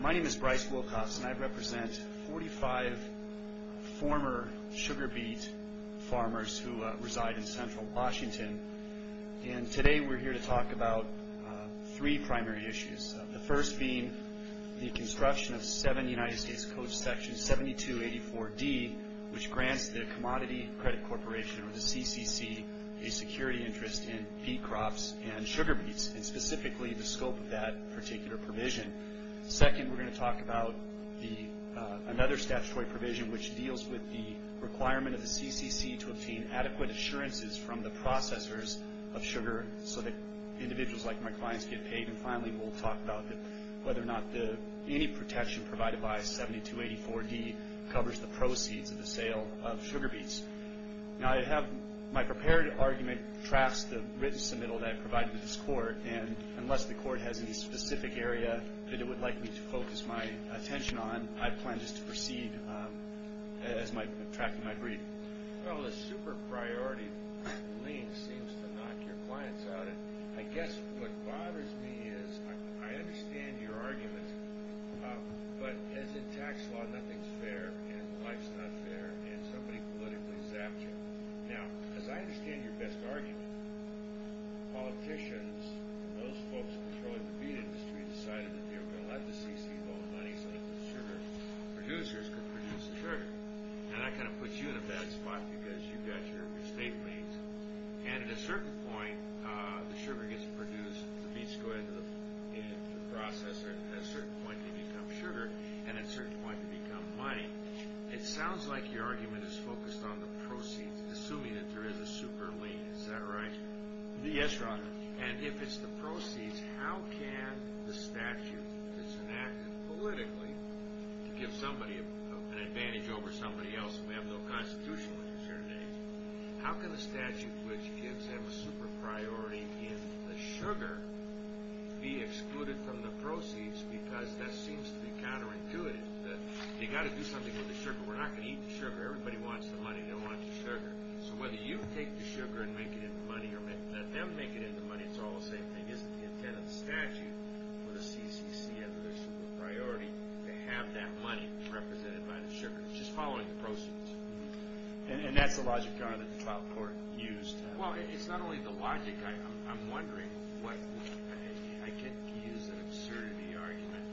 My name is Bryce Wilcox and I represent 45 former sugar beet farmers who reside in central Washington. And today we're here to talk about three primary issues. The first being the construction of 7 United States Code Section 7284D, which grants the Commodity Credit Corporation, or the CCC, a security interest in beet crops and sugar beets, and specifically the scope of that particular provision. Second, we're going to talk about another statutory provision, which deals with the requirement of the CCC to obtain adequate assurances from the processors of sugar so that individuals like my clients get paid. And finally, we'll talk about whether or not any protection provided by 7284D covers the proceeds of the sale of sugar beets. My prepared argument tracks the written submittal that I provide to this court, and unless the court has any specific area that it would like me to focus my attention on, I plan just to proceed tracking my brief. Well, the super priority lien seems to knock your clients out. I guess what bothers me is, I understand your argument, but as in tax law, nothing's fair, and life's not fair, and somebody politically zapped you. Now, as I understand your best argument, politicians, those folks controlling the beet industry, decided that they were going to let the CCC hold money so that the sugar producers could produce the sugar. Now, that kind of puts you in a bad spot because you've got your estate mates, and at a certain point, the sugar gets produced, the beets go into the processor, and at a certain point, they become sugar, and at a certain point, they become money. It sounds like your argument is focused on the proceeds, assuming that there is a super lien. Is that right? Yes, Your Honor. And if it's the proceeds, how can the statute that's enacted politically to give somebody an advantage over somebody else who has no constitutional concern at all, how can the statute which gives them a super priority in the sugar be excluded from the proceeds because that seems to be counterintuitive? You've got to do something with the sugar. We're not going to eat the sugar. Everybody wants the money. They want the sugar. So whether you take the sugar and make it into money or let them make it into money, it's all the same thing. Isn't the intent of the statute for the CCC as their super priority to have that money represented by the sugar? It's just following the proceeds. And that's the logic, Your Honor, that the trial court used. Well, it's not only the logic. I'm wondering what – I could use an absurdity argument.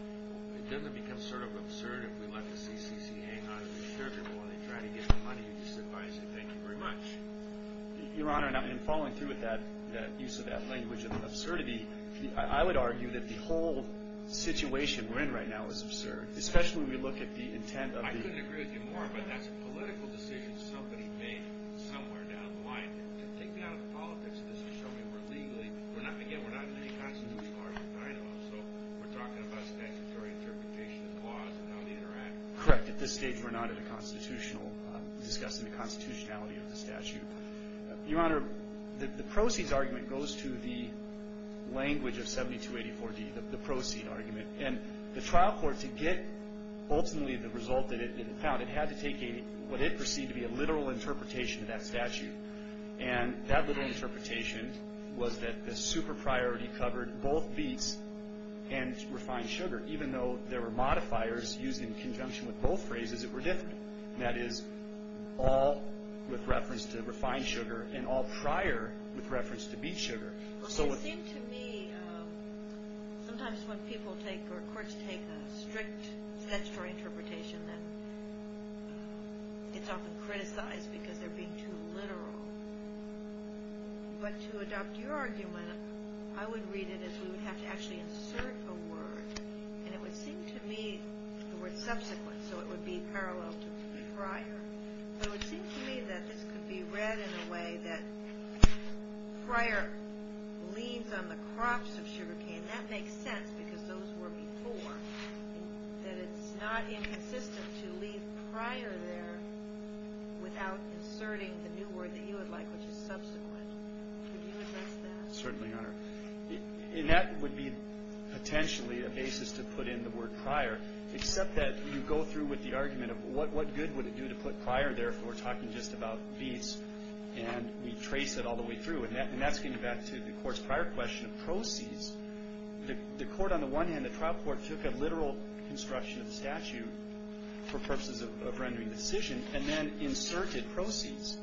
It doesn't become sort of absurd if we let the CCC hang on to the sugar while they try to get the money and disadvise it. Thank you very much. Your Honor, in following through with that use of that language of absurdity, I would argue that the whole situation we're in right now is absurd, especially when we look at the intent of the – I couldn't agree with you more, but that's a political decision somebody made somewhere down the line. Take me out of the politics of this and show me we're legally – again, we're not in any constitutional argument, I know. So we're talking about statutory interpretation of the laws and how they interact. Correct. At this stage, we're not in a constitutional – discussing the constitutionality of the statute. Your Honor, the proceeds argument goes to the language of 7284D, the proceed argument. And the trial court, to get ultimately the result that it found, it had to take what it perceived to be a literal interpretation of that statute. And that literal interpretation was that the super priority covered both beets and refined sugar, even though there were modifiers used in conjunction with both phrases that were different. That is, all with reference to refined sugar and all prior with reference to beet sugar. Well, it seems to me sometimes when people take or courts take a strict statutory interpretation, then it's often criticized because they're being too literal. But to adopt your argument, I would read it as we would have to actually insert a word, and it would seem to me the word subsequent, so it would be parallel to prior. So it seems to me that this could be read in a way that prior leans on the crops of sugarcane. That makes sense because those were before. That it's not inconsistent to leave prior there without inserting the new word that you would like, which is subsequent. Would you address that? Certainly, Your Honor. And that would be potentially a basis to put in the word prior, except that you go through with the argument of what good would it do to put prior there if we were talking just about beets, and we trace it all the way through. And that's getting back to the Court's prior question of proceeds. The Court on the one hand, the trial court, took a literal construction of the statute for purposes of rendering decision, and then inserted proceeds.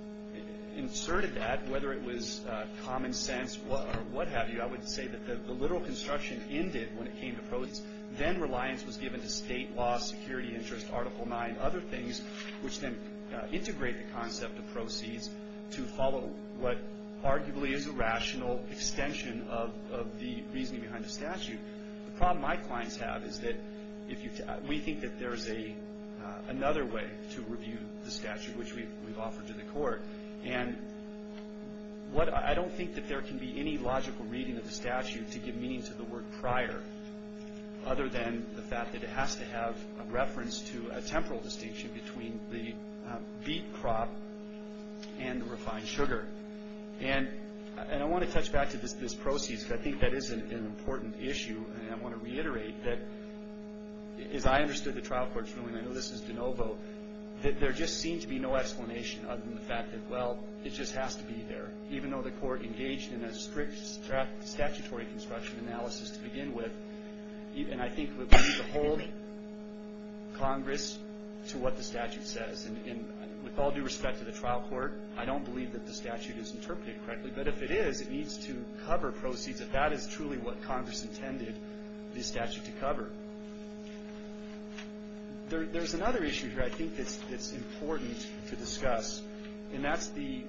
Inserted that, whether it was common sense or what have you, Then reliance was given to state law, security interest, Article IX, other things, which then integrate the concept of proceeds to follow what arguably is a rational extension of the reasoning behind the statute. The problem my clients have is that we think that there is another way to review the statute, which we've offered to the Court. And I don't think that there can be any logical reading of the statute to give meaning to the word prior, other than the fact that it has to have a reference to a temporal distinction between the beet crop and the refined sugar. And I want to touch back to this proceeds, because I think that is an important issue, and I want to reiterate that, as I understood the trial court's ruling, I know this is de novo, that there just seemed to be no explanation other than the fact that, well, it just has to be there. Even though the Court engaged in a strict statutory construction analysis to begin with, and I think we need to hold Congress to what the statute says. And with all due respect to the trial court, I don't believe that the statute is interpreted correctly, but if it is, it needs to cover proceeds, if that is truly what Congress intended the statute to cover. There's another issue here I think that's important to discuss, and that's the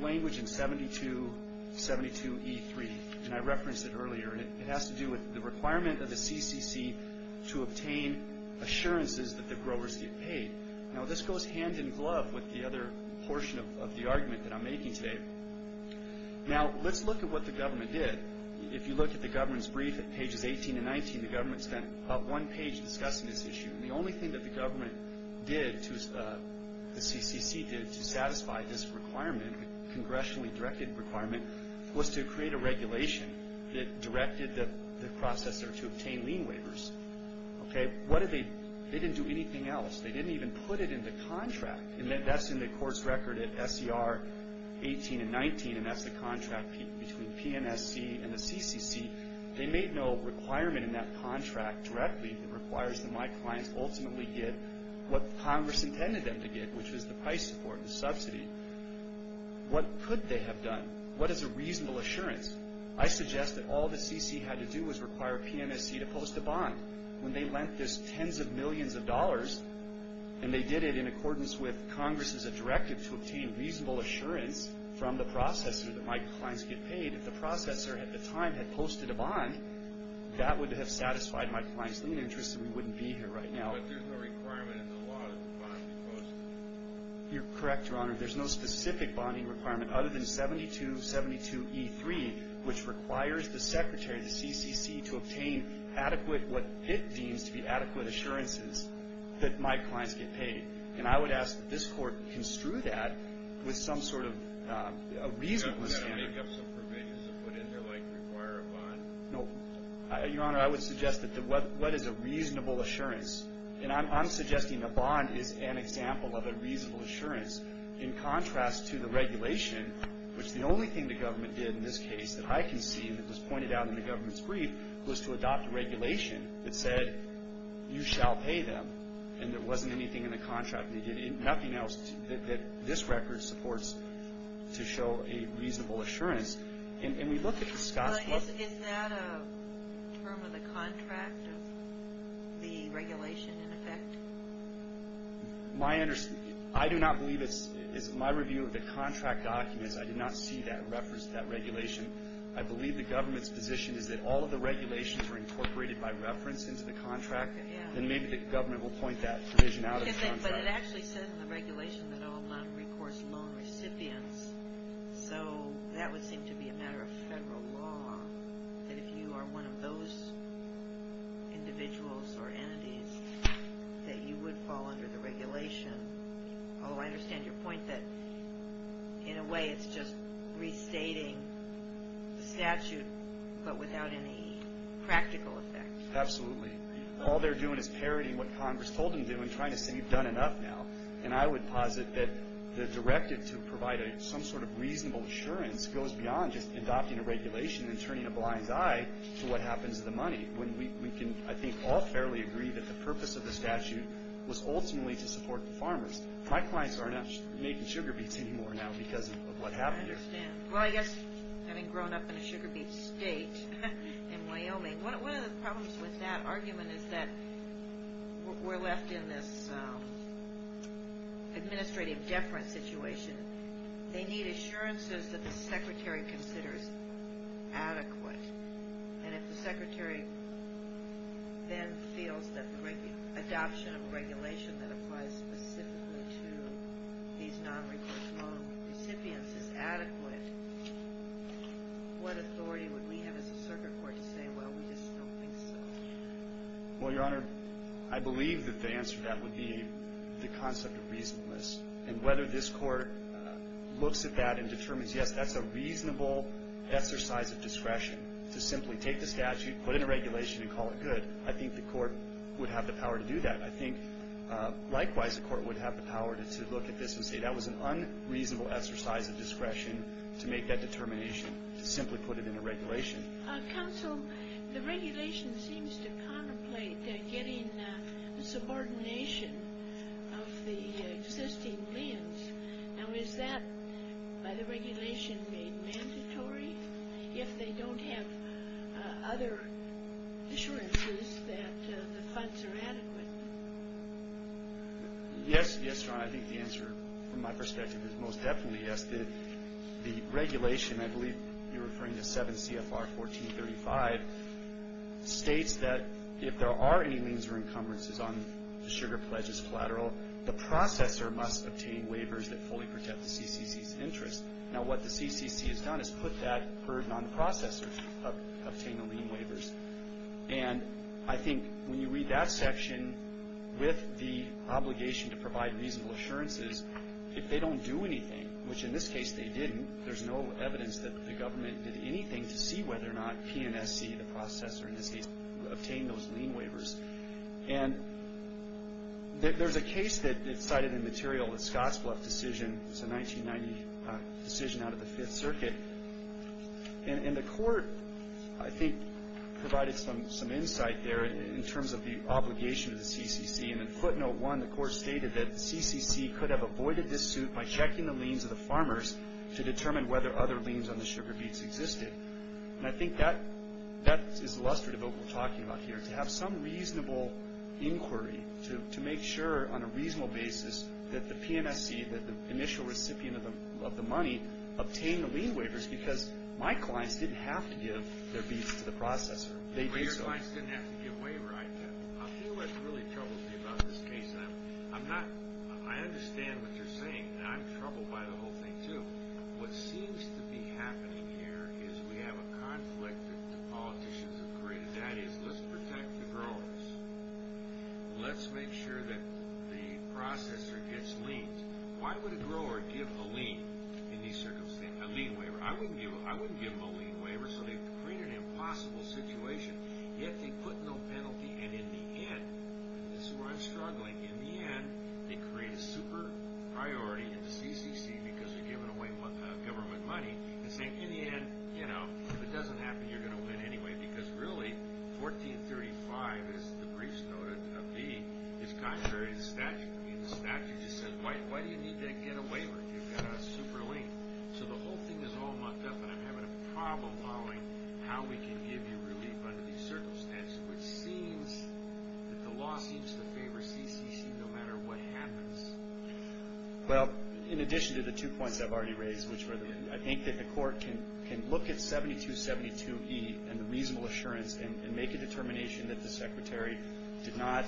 language in 7272E3, and I referenced it earlier, and it has to do with the requirement of the CCC to obtain assurances that the growers get paid. Now, this goes hand in glove with the other portion of the argument that I'm making today. Now, let's look at what the government did. If you look at the government's brief at pages 18 and 19, the government spent about one page discussing this issue, and the only thing that the government did, the CCC did, to satisfy this requirement, a congressionally directed requirement, was to create a regulation that directed the processor to obtain lien waivers. They didn't do anything else. They didn't even put it in the contract, and that's in the court's record at SCR 18 and 19, and that's the contract between PNSC and the CCC. They made no requirement in that contract directly. It requires that my clients ultimately get what Congress intended them to get, which is the price support, the subsidy. What could they have done? What is a reasonable assurance? I suggest that all the CC had to do was require PNSC to post a bond. When they lent this tens of millions of dollars, and they did it in accordance with Congress's directive to obtain reasonable assurance from the processor that my clients get paid, if the processor at the time had posted a bond, that would have satisfied my client's lien interest and we wouldn't be here right now. But there's no requirement in the law that the bond be posted. You're correct, Your Honor. There's no specific bonding requirement other than 7272E3, which requires the secretary of the CCC to obtain adequate, what it deems to be adequate assurances, that my clients get paid. And I would ask that this Court construe that with some sort of a reasonable standard. They've got to make up some provisions to put in there like require a bond. No. Your Honor, I would suggest that what is a reasonable assurance? And I'm suggesting a bond is an example of a reasonable assurance in contrast to the regulation, which the only thing the government did in this case that I can see that was pointed out in the government's brief was to adopt a regulation that said you shall pay them. And there wasn't anything in the contract. They did nothing else that this record supports to show a reasonable assurance. And we look at the Scott's book. But is that a term of the contract of the regulation in effect? I do not believe it's my review of the contract documents. I did not see that regulation. I believe the government's position is that all of the regulations were incorporated by reference into the contract. Then maybe the government will point that provision out of the contract. But it actually says in the regulation that I will not recourse loan recipients. So that would seem to be a matter of federal law, that if you are one of those individuals or entities that you would fall under the regulation. I understand your point that in a way it's just restating the statute but without any practical effect. Absolutely. All they're doing is parodying what Congress told them to do and trying to say you've done enough now. And I would posit that the directive to provide some sort of reasonable assurance goes beyond just adopting a regulation and turning a blind eye to what happens to the money. We can, I think, all fairly agree that the purpose of the statute was ultimately to support the farmers. My clients are not making sugar beets anymore now because of what happened here. I understand. Well, I guess having grown up in a sugar beet state in Wyoming, one of the problems with that argument is that we're left in this administrative deference situation. They need assurances that the secretary considers adequate. And if the secretary then feels that the adoption of a regulation that applies specifically to these nonrecourse loan recipients is adequate, what authority would we have as a circuit court to say, well, we just don't think so? Well, Your Honor, I believe that the answer to that would be the concept of reasonableness. And whether this court looks at that and determines, yes, that's a reasonable exercise of discretion, to simply take the statute, put in a regulation, and call it good, I think the court would have the power to do that. I think, likewise, the court would have the power to look at this and say, that was an unreasonable exercise of discretion to make that determination, to simply put it in a regulation. Counsel, the regulation seems to contemplate getting a subordination of the existing liens. Now, is that, by the regulation, made mandatory if they don't have other assurances that the funds are adequate? Yes, Your Honor, I think the answer, from my perspective, is most definitely yes. The regulation, I believe you're referring to 7 CFR 1435, states that if there are any liens or encumbrances on the sugar pledges collateral, the processor must obtain waivers that fully protect the CCC's interest. Now, what the CCC has done is put that burden on the processor to obtain the lien waivers. And I think when you read that section with the obligation to provide reasonable assurances, if they don't do anything, which in this case they didn't, there's no evidence that the government did anything to see whether or not PNSC, the processor, in this case, obtained those lien waivers. And there's a case that's cited in the material, the Scottsbluff decision. It's a 1990 decision out of the Fifth Circuit. And the court, I think, provided some insight there in terms of the obligation of the CCC. And in footnote 1, the court stated that the CCC could have avoided this suit by checking the liens of the farmers to determine whether other liens on the sugar beets existed. And I think that is illustrative of what we're talking about here, to have some reasonable inquiry, to make sure on a reasonable basis that the PNSC, that the initial recipient of the money, obtained the lien waivers because my clients didn't have to give their beets to the processor. They did so. Well, your clients didn't have to give waiver. I think what's really troubling me about this case, and I understand what you're saying, and I'm troubled by the whole thing too. What seems to be happening here is we have a conflict that the politicians have created. That is, let's protect the growers. Let's make sure that the processor gets liens. Why would a grower give a lien in these circumstances, a lien waiver? I wouldn't give them a lien waiver. So they've created an impossible situation, yet they put no penalty. And in the end, this is where I'm struggling, in the end, they create a super priority in the CCC because they're giving away government money and saying, in the end, you know, if it doesn't happen, you're going to win anyway. Because really, 1435, as the briefs noted, is contrary to the statute. The statute just says, why do you need that get a waiver if you've got a super lien? So the whole thing is all mucked up, and I'm having a problem following how we can give you relief under these circumstances, which seems that the law seems to favor CCC no matter what happens. Well, in addition to the two points I've already raised, which were I think that the court can look at 7272E and the reasonable assurance and make a determination that the secretary did not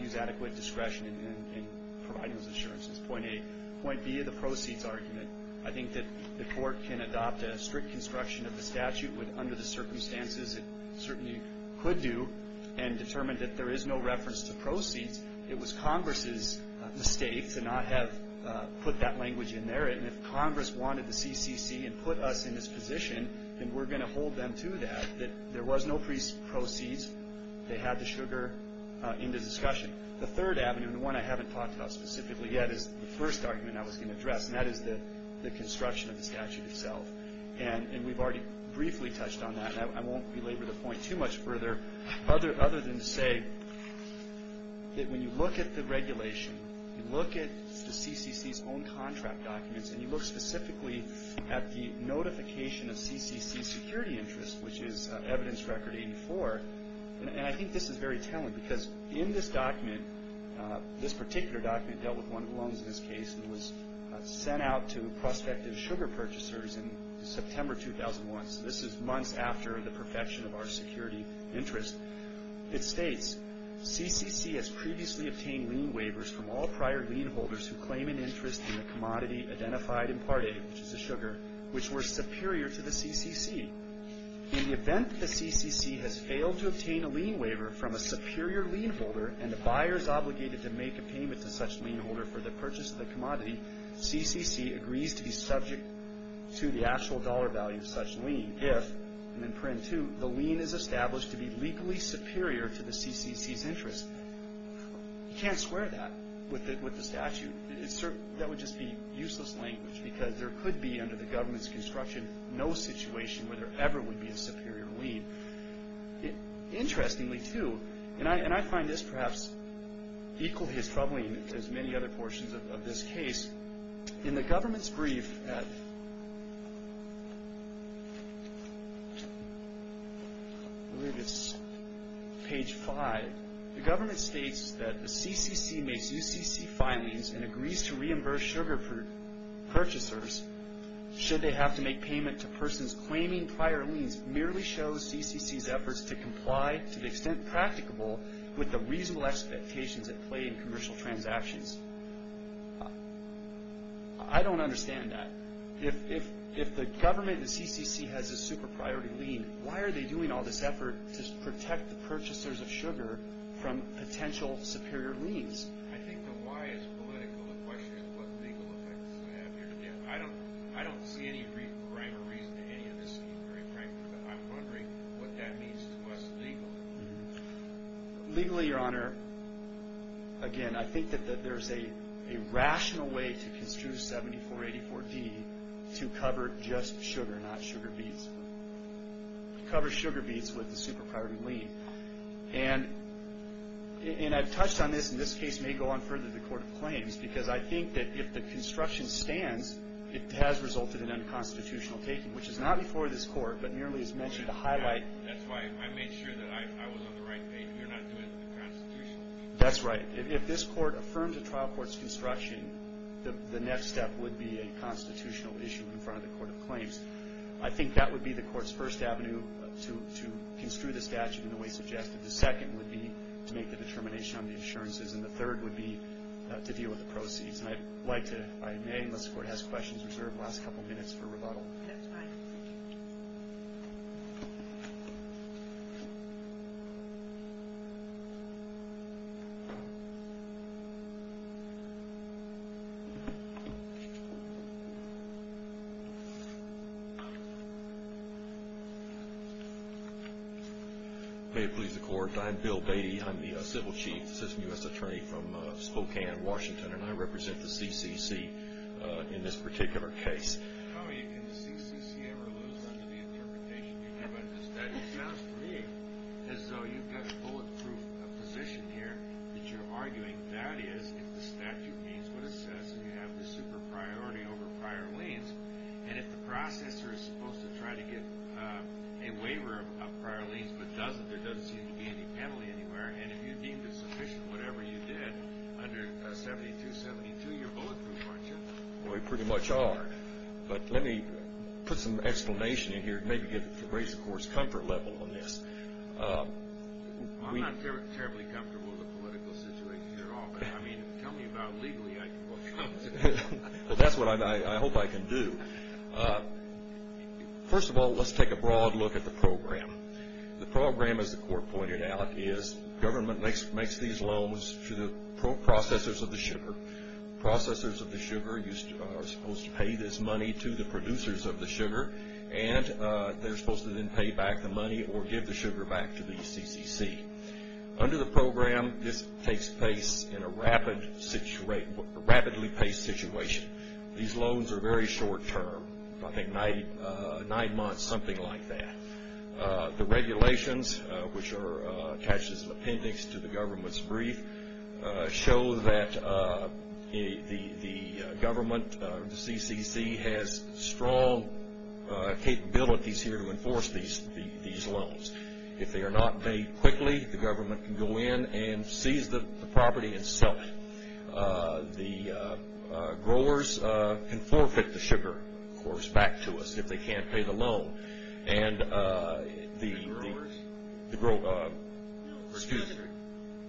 use adequate discretion in providing those assurances. Point A. Point B, the proceeds argument. I think that the court can adopt a strict construction of the statute under the circumstances it certainly could do, and determine that there is no reference to proceeds. It was Congress's mistake to not have put that language in there, and if Congress wanted the CCC and put us in this position, then we're going to hold them to that, that there was no proceeds. They had the sugar in the discussion. The third avenue, and the one I haven't talked about specifically yet, is the first argument I was going to address, and that is the construction of the statute itself. And we've already briefly touched on that, and I won't belabor the point too much further, other than to say that when you look at the regulation, you look at the CCC's own contract documents, and you look specifically at the notification of CCC security interest, which is evidence record 84, and I think this is very telling, because in this document, this particular document dealt with one of the loans in this case that was sent out to prospective sugar purchasers in September 2001. So this is months after the perfection of our security interest. It states, CCC has previously obtained lien waivers from all prior lien holders who claim an interest in the commodity identified in Part A, which is the sugar, which were superior to the CCC. In the event that the CCC has failed to obtain a lien waiver from a superior lien holder, and the buyer is obligated to make a payment to such lien holder for the purchase of the commodity, CCC agrees to be subject to the actual dollar value of such lien, if, and in print too, the lien is established to be legally superior to the CCC's interest. You can't square that with the statute. That would just be useless language, because there could be, under the government's construction, no situation where there ever would be a superior lien. Interestingly, too, and I find this perhaps equally as troubling as many other portions of this case, in the government's brief at, I believe it's page 5, the government states that the CCC makes UCC filings and agrees to reimburse sugar purchasers should they have to make payment to persons claiming prior liens merely shows CCC's efforts to comply to the extent practicable with the reasonable expectations at play in commercial transactions. I don't understand that. If the government, the CCC, has a super-priority lien, why are they doing all this effort to protect the purchasers of sugar from potential superior liens? I think the why is political. The question is what legal effects does it have here to give? I don't see any rhyme or reason to any of this, to be very frank with you, but I'm wondering what that means to us legally. Legally, Your Honor, again, I think that there's a rational way to construe 7484D to cover just sugar, not sugar beets, to cover sugar beets with a super-priority lien. And I've touched on this, and this case may go on further to the Court of Claims, because I think that if the construction stands, it has resulted in unconstitutional taking, which is not before this Court, but merely is mentioned to highlight... That's why I made sure that I was on the right page. We are not doing it in the Constitution. That's right. If this Court affirms a trial court's construction, the next step would be a constitutional issue in front of the Court of Claims. I think that would be the Court's first avenue to construe the statute in the way suggested. The second would be to make the determination on the assurances, and the third would be to deal with the proceeds. And I'd like to, if I may, unless the Court has questions, reserve the last couple of minutes for rebuttal. That's fine. May it please the Court, I'm Bill Beatty. I'm the Civil Chief, Assistant U.S. Attorney from Spokane, Washington, and I represent the CCC in this particular case. Oh, and the CCC ever lose under the interpretation you give of the statute? To be honest with you, it's as though you've got a bulletproof position here that you're arguing. That is, if the statute means what it says, and you have the super priority over prior liens, and if the processor is supposed to try to get a waiver of prior liens but doesn't, there doesn't seem to be any penalty anywhere, and if you deem it sufficient, whatever you did under 7272, you're bulletproof, aren't you? Well, we pretty much are, but let me put some explanation in here to maybe raise the Court's comfort level on this. Well, I'm not terribly comfortable with the political situation here at all, but, I mean, tell me about it legally. Well, that's what I hope I can do. First of all, let's take a broad look at the program. The program, as the Court pointed out, is government makes these loans to the processors of the sugar. Processors of the sugar are supposed to pay this money to the producers of the sugar, and they're supposed to then pay back the money or give the sugar back to the CCC. Under the program, this takes place in a rapidly paced situation. These loans are very short term, I think nine months, something like that. The regulations, which are attached as appendix to the government's brief, show that the government, the CCC, has strong capabilities here to enforce these loans. If they are not made quickly, the government can go in and seize the property and sell it. The growers can forfeit the sugar, of course, back to us if they can't pay the loan.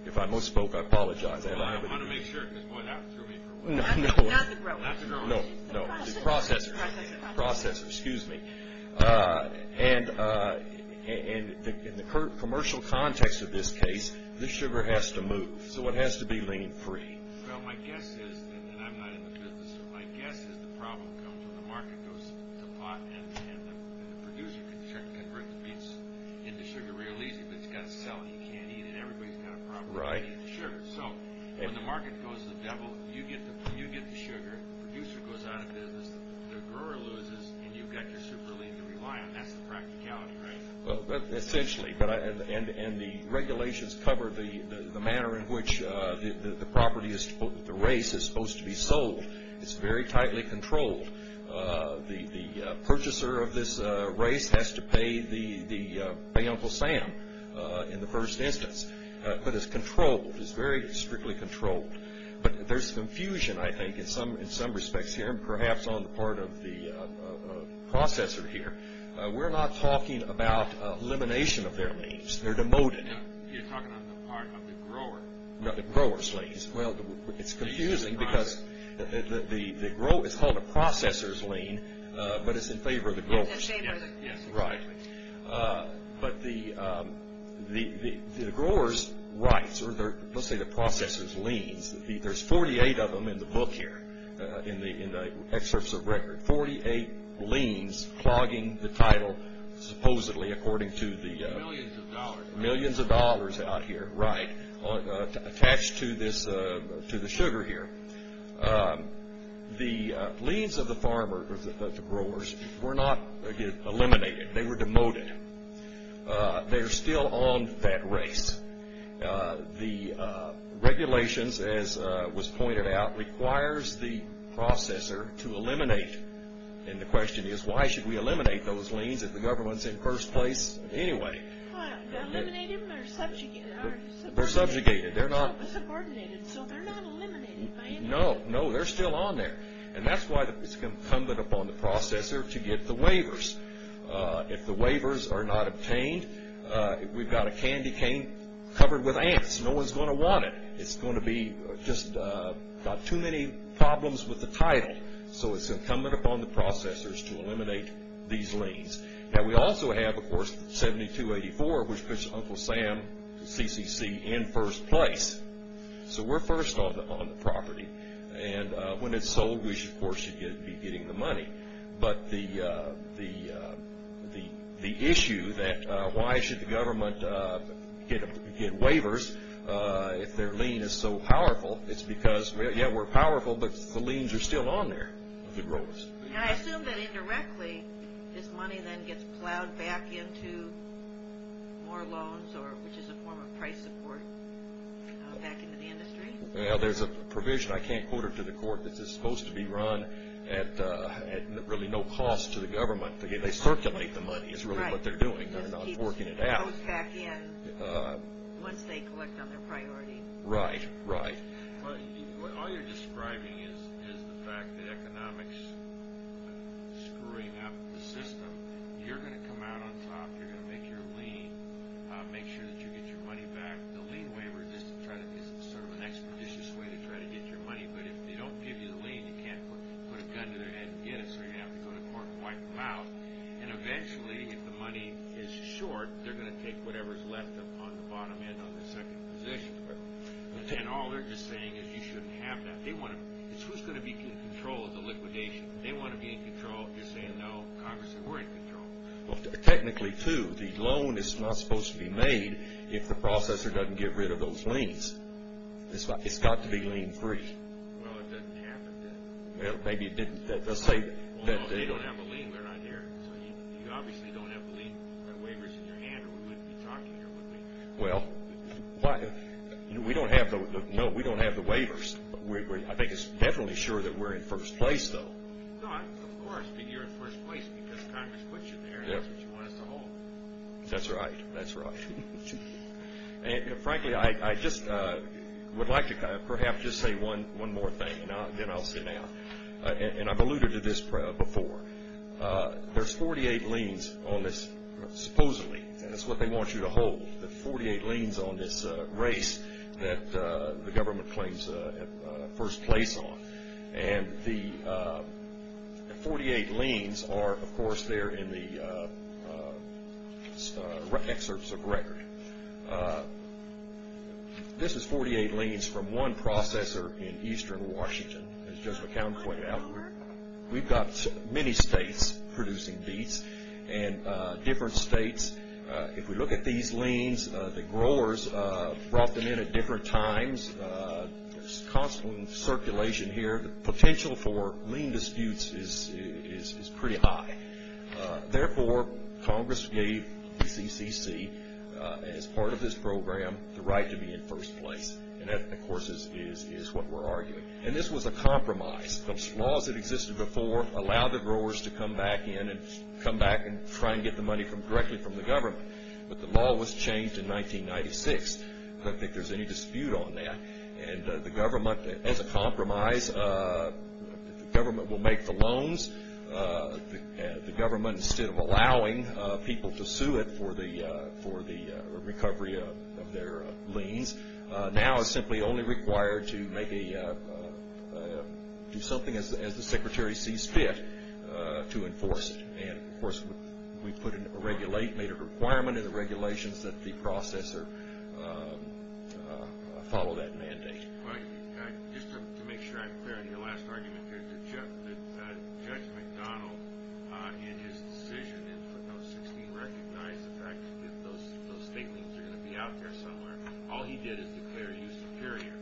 If I misspoke, I apologize. Well, I want to make sure, because boy, that threw me for a while. Not the growers. Not the growers. No, no, the processors. Processors. Processors, excuse me. In the commercial context of this case, the sugar has to move, so it has to be lean free. Well, my guess is, and I'm not in the business, my guess is the problem comes when the market goes to pot and the producer can convert the beets into sugar real easy, but it's got to sell and you can't eat it. Everybody's got a problem eating the sugar. When the market goes to the devil, you get the sugar, the producer goes out of business, the grower loses, and you've got your super lean to rely on. That's the practicality, right? Essentially, and the regulations cover the manner in which the race is supposed to be sold. It's very tightly controlled. The purchaser of this race has to pay Uncle Sam in the first instance, but it's controlled, it's very strictly controlled. But there's confusion, I think, in some respects here and perhaps on the part of the processor here. We're not talking about elimination of their leans. They're demoted. You're talking on the part of the grower. No, the grower's leans. Well, it's confusing because it's called a processor's lean, but it's in favor of the grower's lean. Right. But the grower's rights, or let's say the processor's leans, there's 48 of them in the book here, in the excerpts of record, 48 leans clogging the title supposedly according to the millions of dollars out here. Right. Attached to the sugar here. The leans of the farmer, or the growers, were not eliminated. They were demoted. They're still on that race. The regulations, as was pointed out, requires the processor to eliminate. And the question is, why should we eliminate those leans if the government's in first place anyway? To eliminate them or subjugate them? They're subjugated. Subordinated. So they're not eliminated by anybody. No, they're still on there. And that's why it's incumbent upon the processor to get the waivers. If the waivers are not obtained, we've got a candy cane covered with ants. No one's going to want it. It's going to be just got too many problems with the title. So it's incumbent upon the processors to eliminate these leans. Now, we also have, of course, 7284, which puts Uncle Sam, the CCC, in first place. So we're first on the property. And when it's sold, we should, of course, be getting the money. But the issue that why should the government get waivers if their lien is so powerful, it's because, yeah, we're powerful, but the liens are still on there. I assume that indirectly this money then gets plowed back into more loans, which is a form of price support, back into the industry. Well, there's a provision. I can't quote it to the court. This is supposed to be run at really no cost to the government. They circulate the money is really what they're doing. They're not forking it out. Right. Just keeps the loans back in once they collect on their priority. Right, right. All you're describing is the fact that economics is screwing up the system. You're going to come out on top. You're going to make your lien, make sure that you get your money back. The lien waiver is sort of an expeditious way to try to get your money, but if they don't give you the lien, you can't put a gun to their head and get it, so you're going to have to go to court and wipe them out. And eventually, if the money is short, they're going to take whatever's left on the bottom end on the second position. And all they're just saying is you shouldn't have that. It's who's going to be in control of the liquidation. If they want to be in control, you're saying, no, Congress, we're in control. Well, technically, too, the loan is not supposed to be made if the processor doesn't get rid of those liens. It's got to be lien-free. Well, it doesn't happen that way. Well, maybe it didn't. Well, they don't have a lien. They're not here. So you obviously don't have the lien waivers in your hand, or we wouldn't be talking here, would we? Well, we don't have the waivers. I think it's definitely sure that we're in first place, though. But, of course, you're in first place because Congress puts you there and that's what you want us to hold. That's right. That's right. And, frankly, I just would like to perhaps just say one more thing, and then I'll sit down. And I've alluded to this before. There's 48 liens on this, supposedly, and that's what they want you to hold, the 48 liens on this race that the government claims first place on. And the 48 liens are, of course, there in the excerpts of record. This is 48 liens from one processor in eastern Washington, as Judge McCown pointed out. We've got many states producing beets and different states. If we look at these liens, the growers brought them in at different times. There's constant circulation here. The potential for lien disputes is pretty high. Therefore, Congress gave the CCC, as part of this program, the right to be in first place. And that, of course, is what we're arguing. And this was a compromise. Those laws that existed before allowed the growers to come back in and try and get the money directly from the government. But the law was changed in 1996. I don't think there's any dispute on that. And the government, as a compromise, the government will make the loans. The government, instead of allowing people to sue it for the recovery of their liens, now is simply only required to do something, as the Secretary sees fit, to enforce it. And, of course, we made a requirement in the regulations that the processor follow that mandate. Just to make sure I'm clear on your last argument, Judge McDonnell, in his decision in footnote 16, recognized the fact that those state liens are going to be out there somewhere. All he did is declare you superior.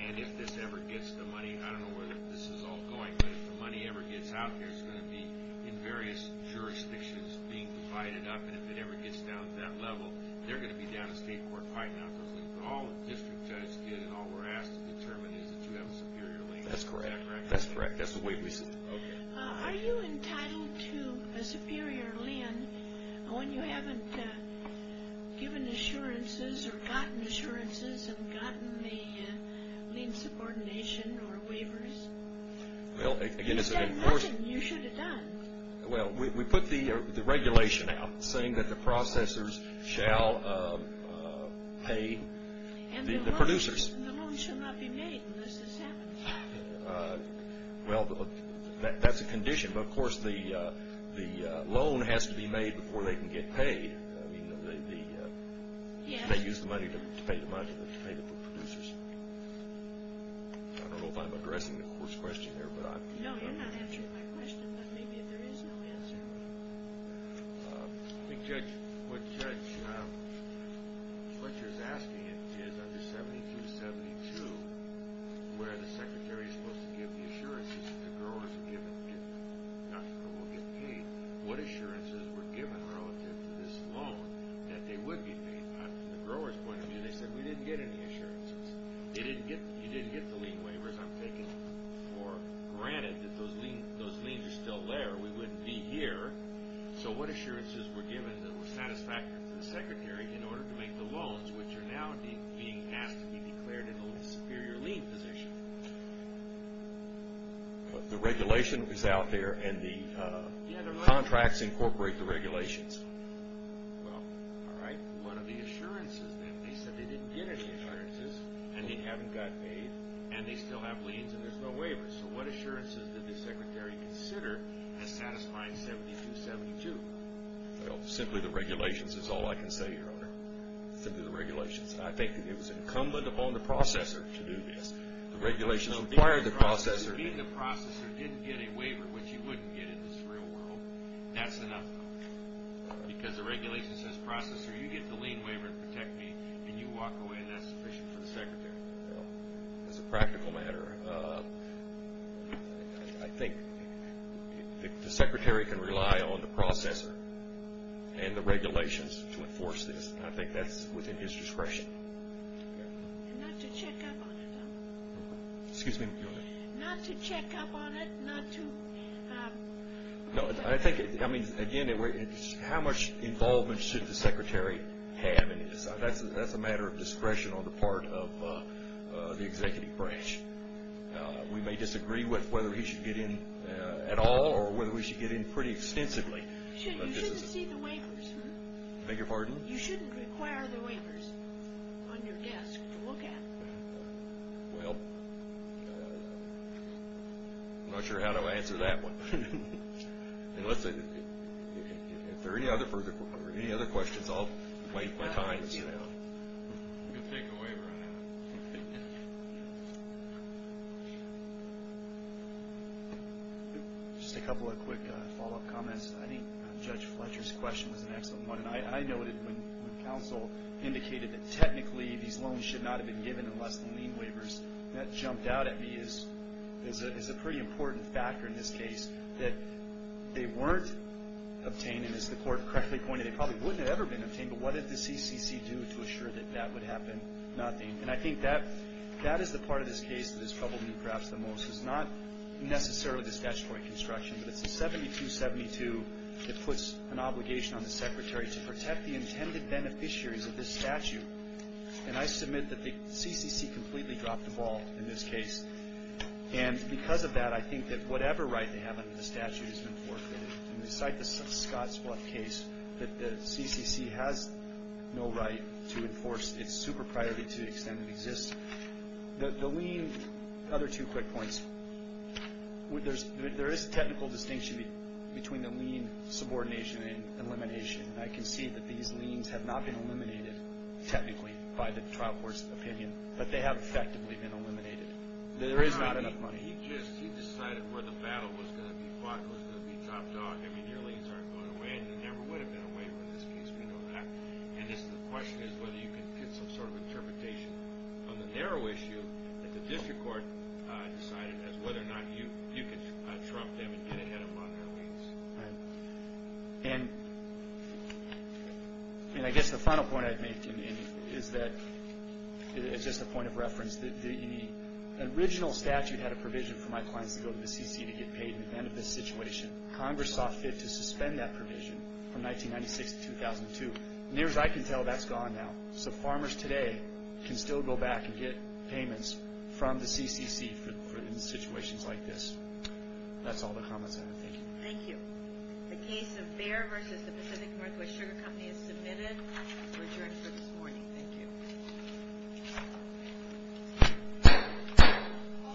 And if this ever gets the money, I don't know where this is all going, but if the money ever gets out there, it's going to be in various jurisdictions being divided up. And if it ever gets down to that level, they're going to be down to state court fighting out those liens. But all the district judge did and all we're asked to determine is that you have a superior lien. That's correct. That's correct. That's the way we see it. Are you entitled to a superior lien when you haven't given assurances or gotten assurances and gotten the lien subordination or waivers? You said nothing you should have done. Well, we put the regulation out saying that the processors shall pay the producers. And the loan shall not be made unless this happens. Well, that's a condition. But, of course, the loan has to be made before they can get paid. They use the money to pay the producers. I don't know if I'm addressing the first question there. No, you're not answering my question, but maybe there is no answer. I think, Judge, what you're asking is under 7272, where the secretary is supposed to give the assurances that the growers are given, not that they will get paid, what assurances were given relative to this loan that they would be paid. From the grower's point of view, they said we didn't get any assurances. You didn't get the lien waivers. I'm taking for granted that those liens are still there. We wouldn't be here. So what assurances were given that were satisfactory to the secretary in order to make the loans, which are now being asked to be declared in a superior lien position? The regulation is out there, and the contracts incorporate the regulations. Well, all right. What are the assurances, then? They said they didn't get any assurances, and they haven't gotten paid, and they still have liens and there's no waivers. So what assurances did the secretary consider as satisfying 7272? Well, simply the regulations is all I can say, Your Honor. Simply the regulations. I think that it was incumbent upon the processor to do this. The regulations required the processor to do this. Being the processor didn't get a waiver, which you wouldn't get in this real world. That's enough, though. Because the regulation says processor, you get the lien waiver to protect me, and you walk away, and that's sufficient for the secretary. As a practical matter, I think the secretary can rely on the processor and the regulations to enforce this, and I think that's within his discretion. And not to check up on it, though. Excuse me, Your Honor. Not to check up on it, not to... I think, again, how much involvement should the secretary have in this? That's a matter of discretion on the part of the executive branch. We may disagree with whether he should get in at all or whether we should get in pretty extensively. You shouldn't see the waivers. Beg your pardon? You shouldn't require the waivers on your desk to look at. Well, I'm not sure how to answer that one. Unless there are any other questions, I'll wait my time. You can take a waiver on that. Just a couple of quick follow-up comments. I think Judge Fletcher's question was an excellent one, and I noted when counsel indicated that technically these loans should not have been given unless the lien waivers, and that jumped out at me as a pretty important factor in this case, that they weren't obtained, and as the court correctly pointed, they probably wouldn't have ever been obtained, but what did the CCC do to assure that that would happen? Nothing. And I think that is the part of this case that is troubling you perhaps the most. It's not necessarily the statutory construction, but it's the 7272 that puts an obligation on the secretary to protect the intended beneficiaries of this statute. And I submit that the CCC completely dropped the ball in this case, and because of that, I think that whatever right they have under the statute has been forfeited, and we cite the Scott's Bluff case, that the CCC has no right to enforce its super priority to the extent it exists. The lien, other two quick points. There is a technical distinction between the lien subordination and elimination, and I can see that these liens have not been eliminated technically by the trial court's opinion, but they have effectively been eliminated. There is not enough money. He just decided where the battle was going to be fought, was going to be topped off. I mean, your liens aren't going away, and there never would have been a waiver in this case. We know that. And the question is whether you can get some sort of interpretation on the narrow issue that the district court decided as whether or not you could trump them and get ahead of them on their liens. And I guess the final point I'd make is that, as just a point of reference, the original statute had a provision for my clients to go to the CCC to get paid in the event of this situation. Congress saw fit to suspend that provision from 1996 to 2002. Near as I can tell, that's gone now. So farmers today can still go back and get payments from the CCC for situations like this. That's all the comments I have. Thank you. The case of Bayer v. Pacific Northwest Sugar Company is submitted and is adjourned for this morning. Thank you.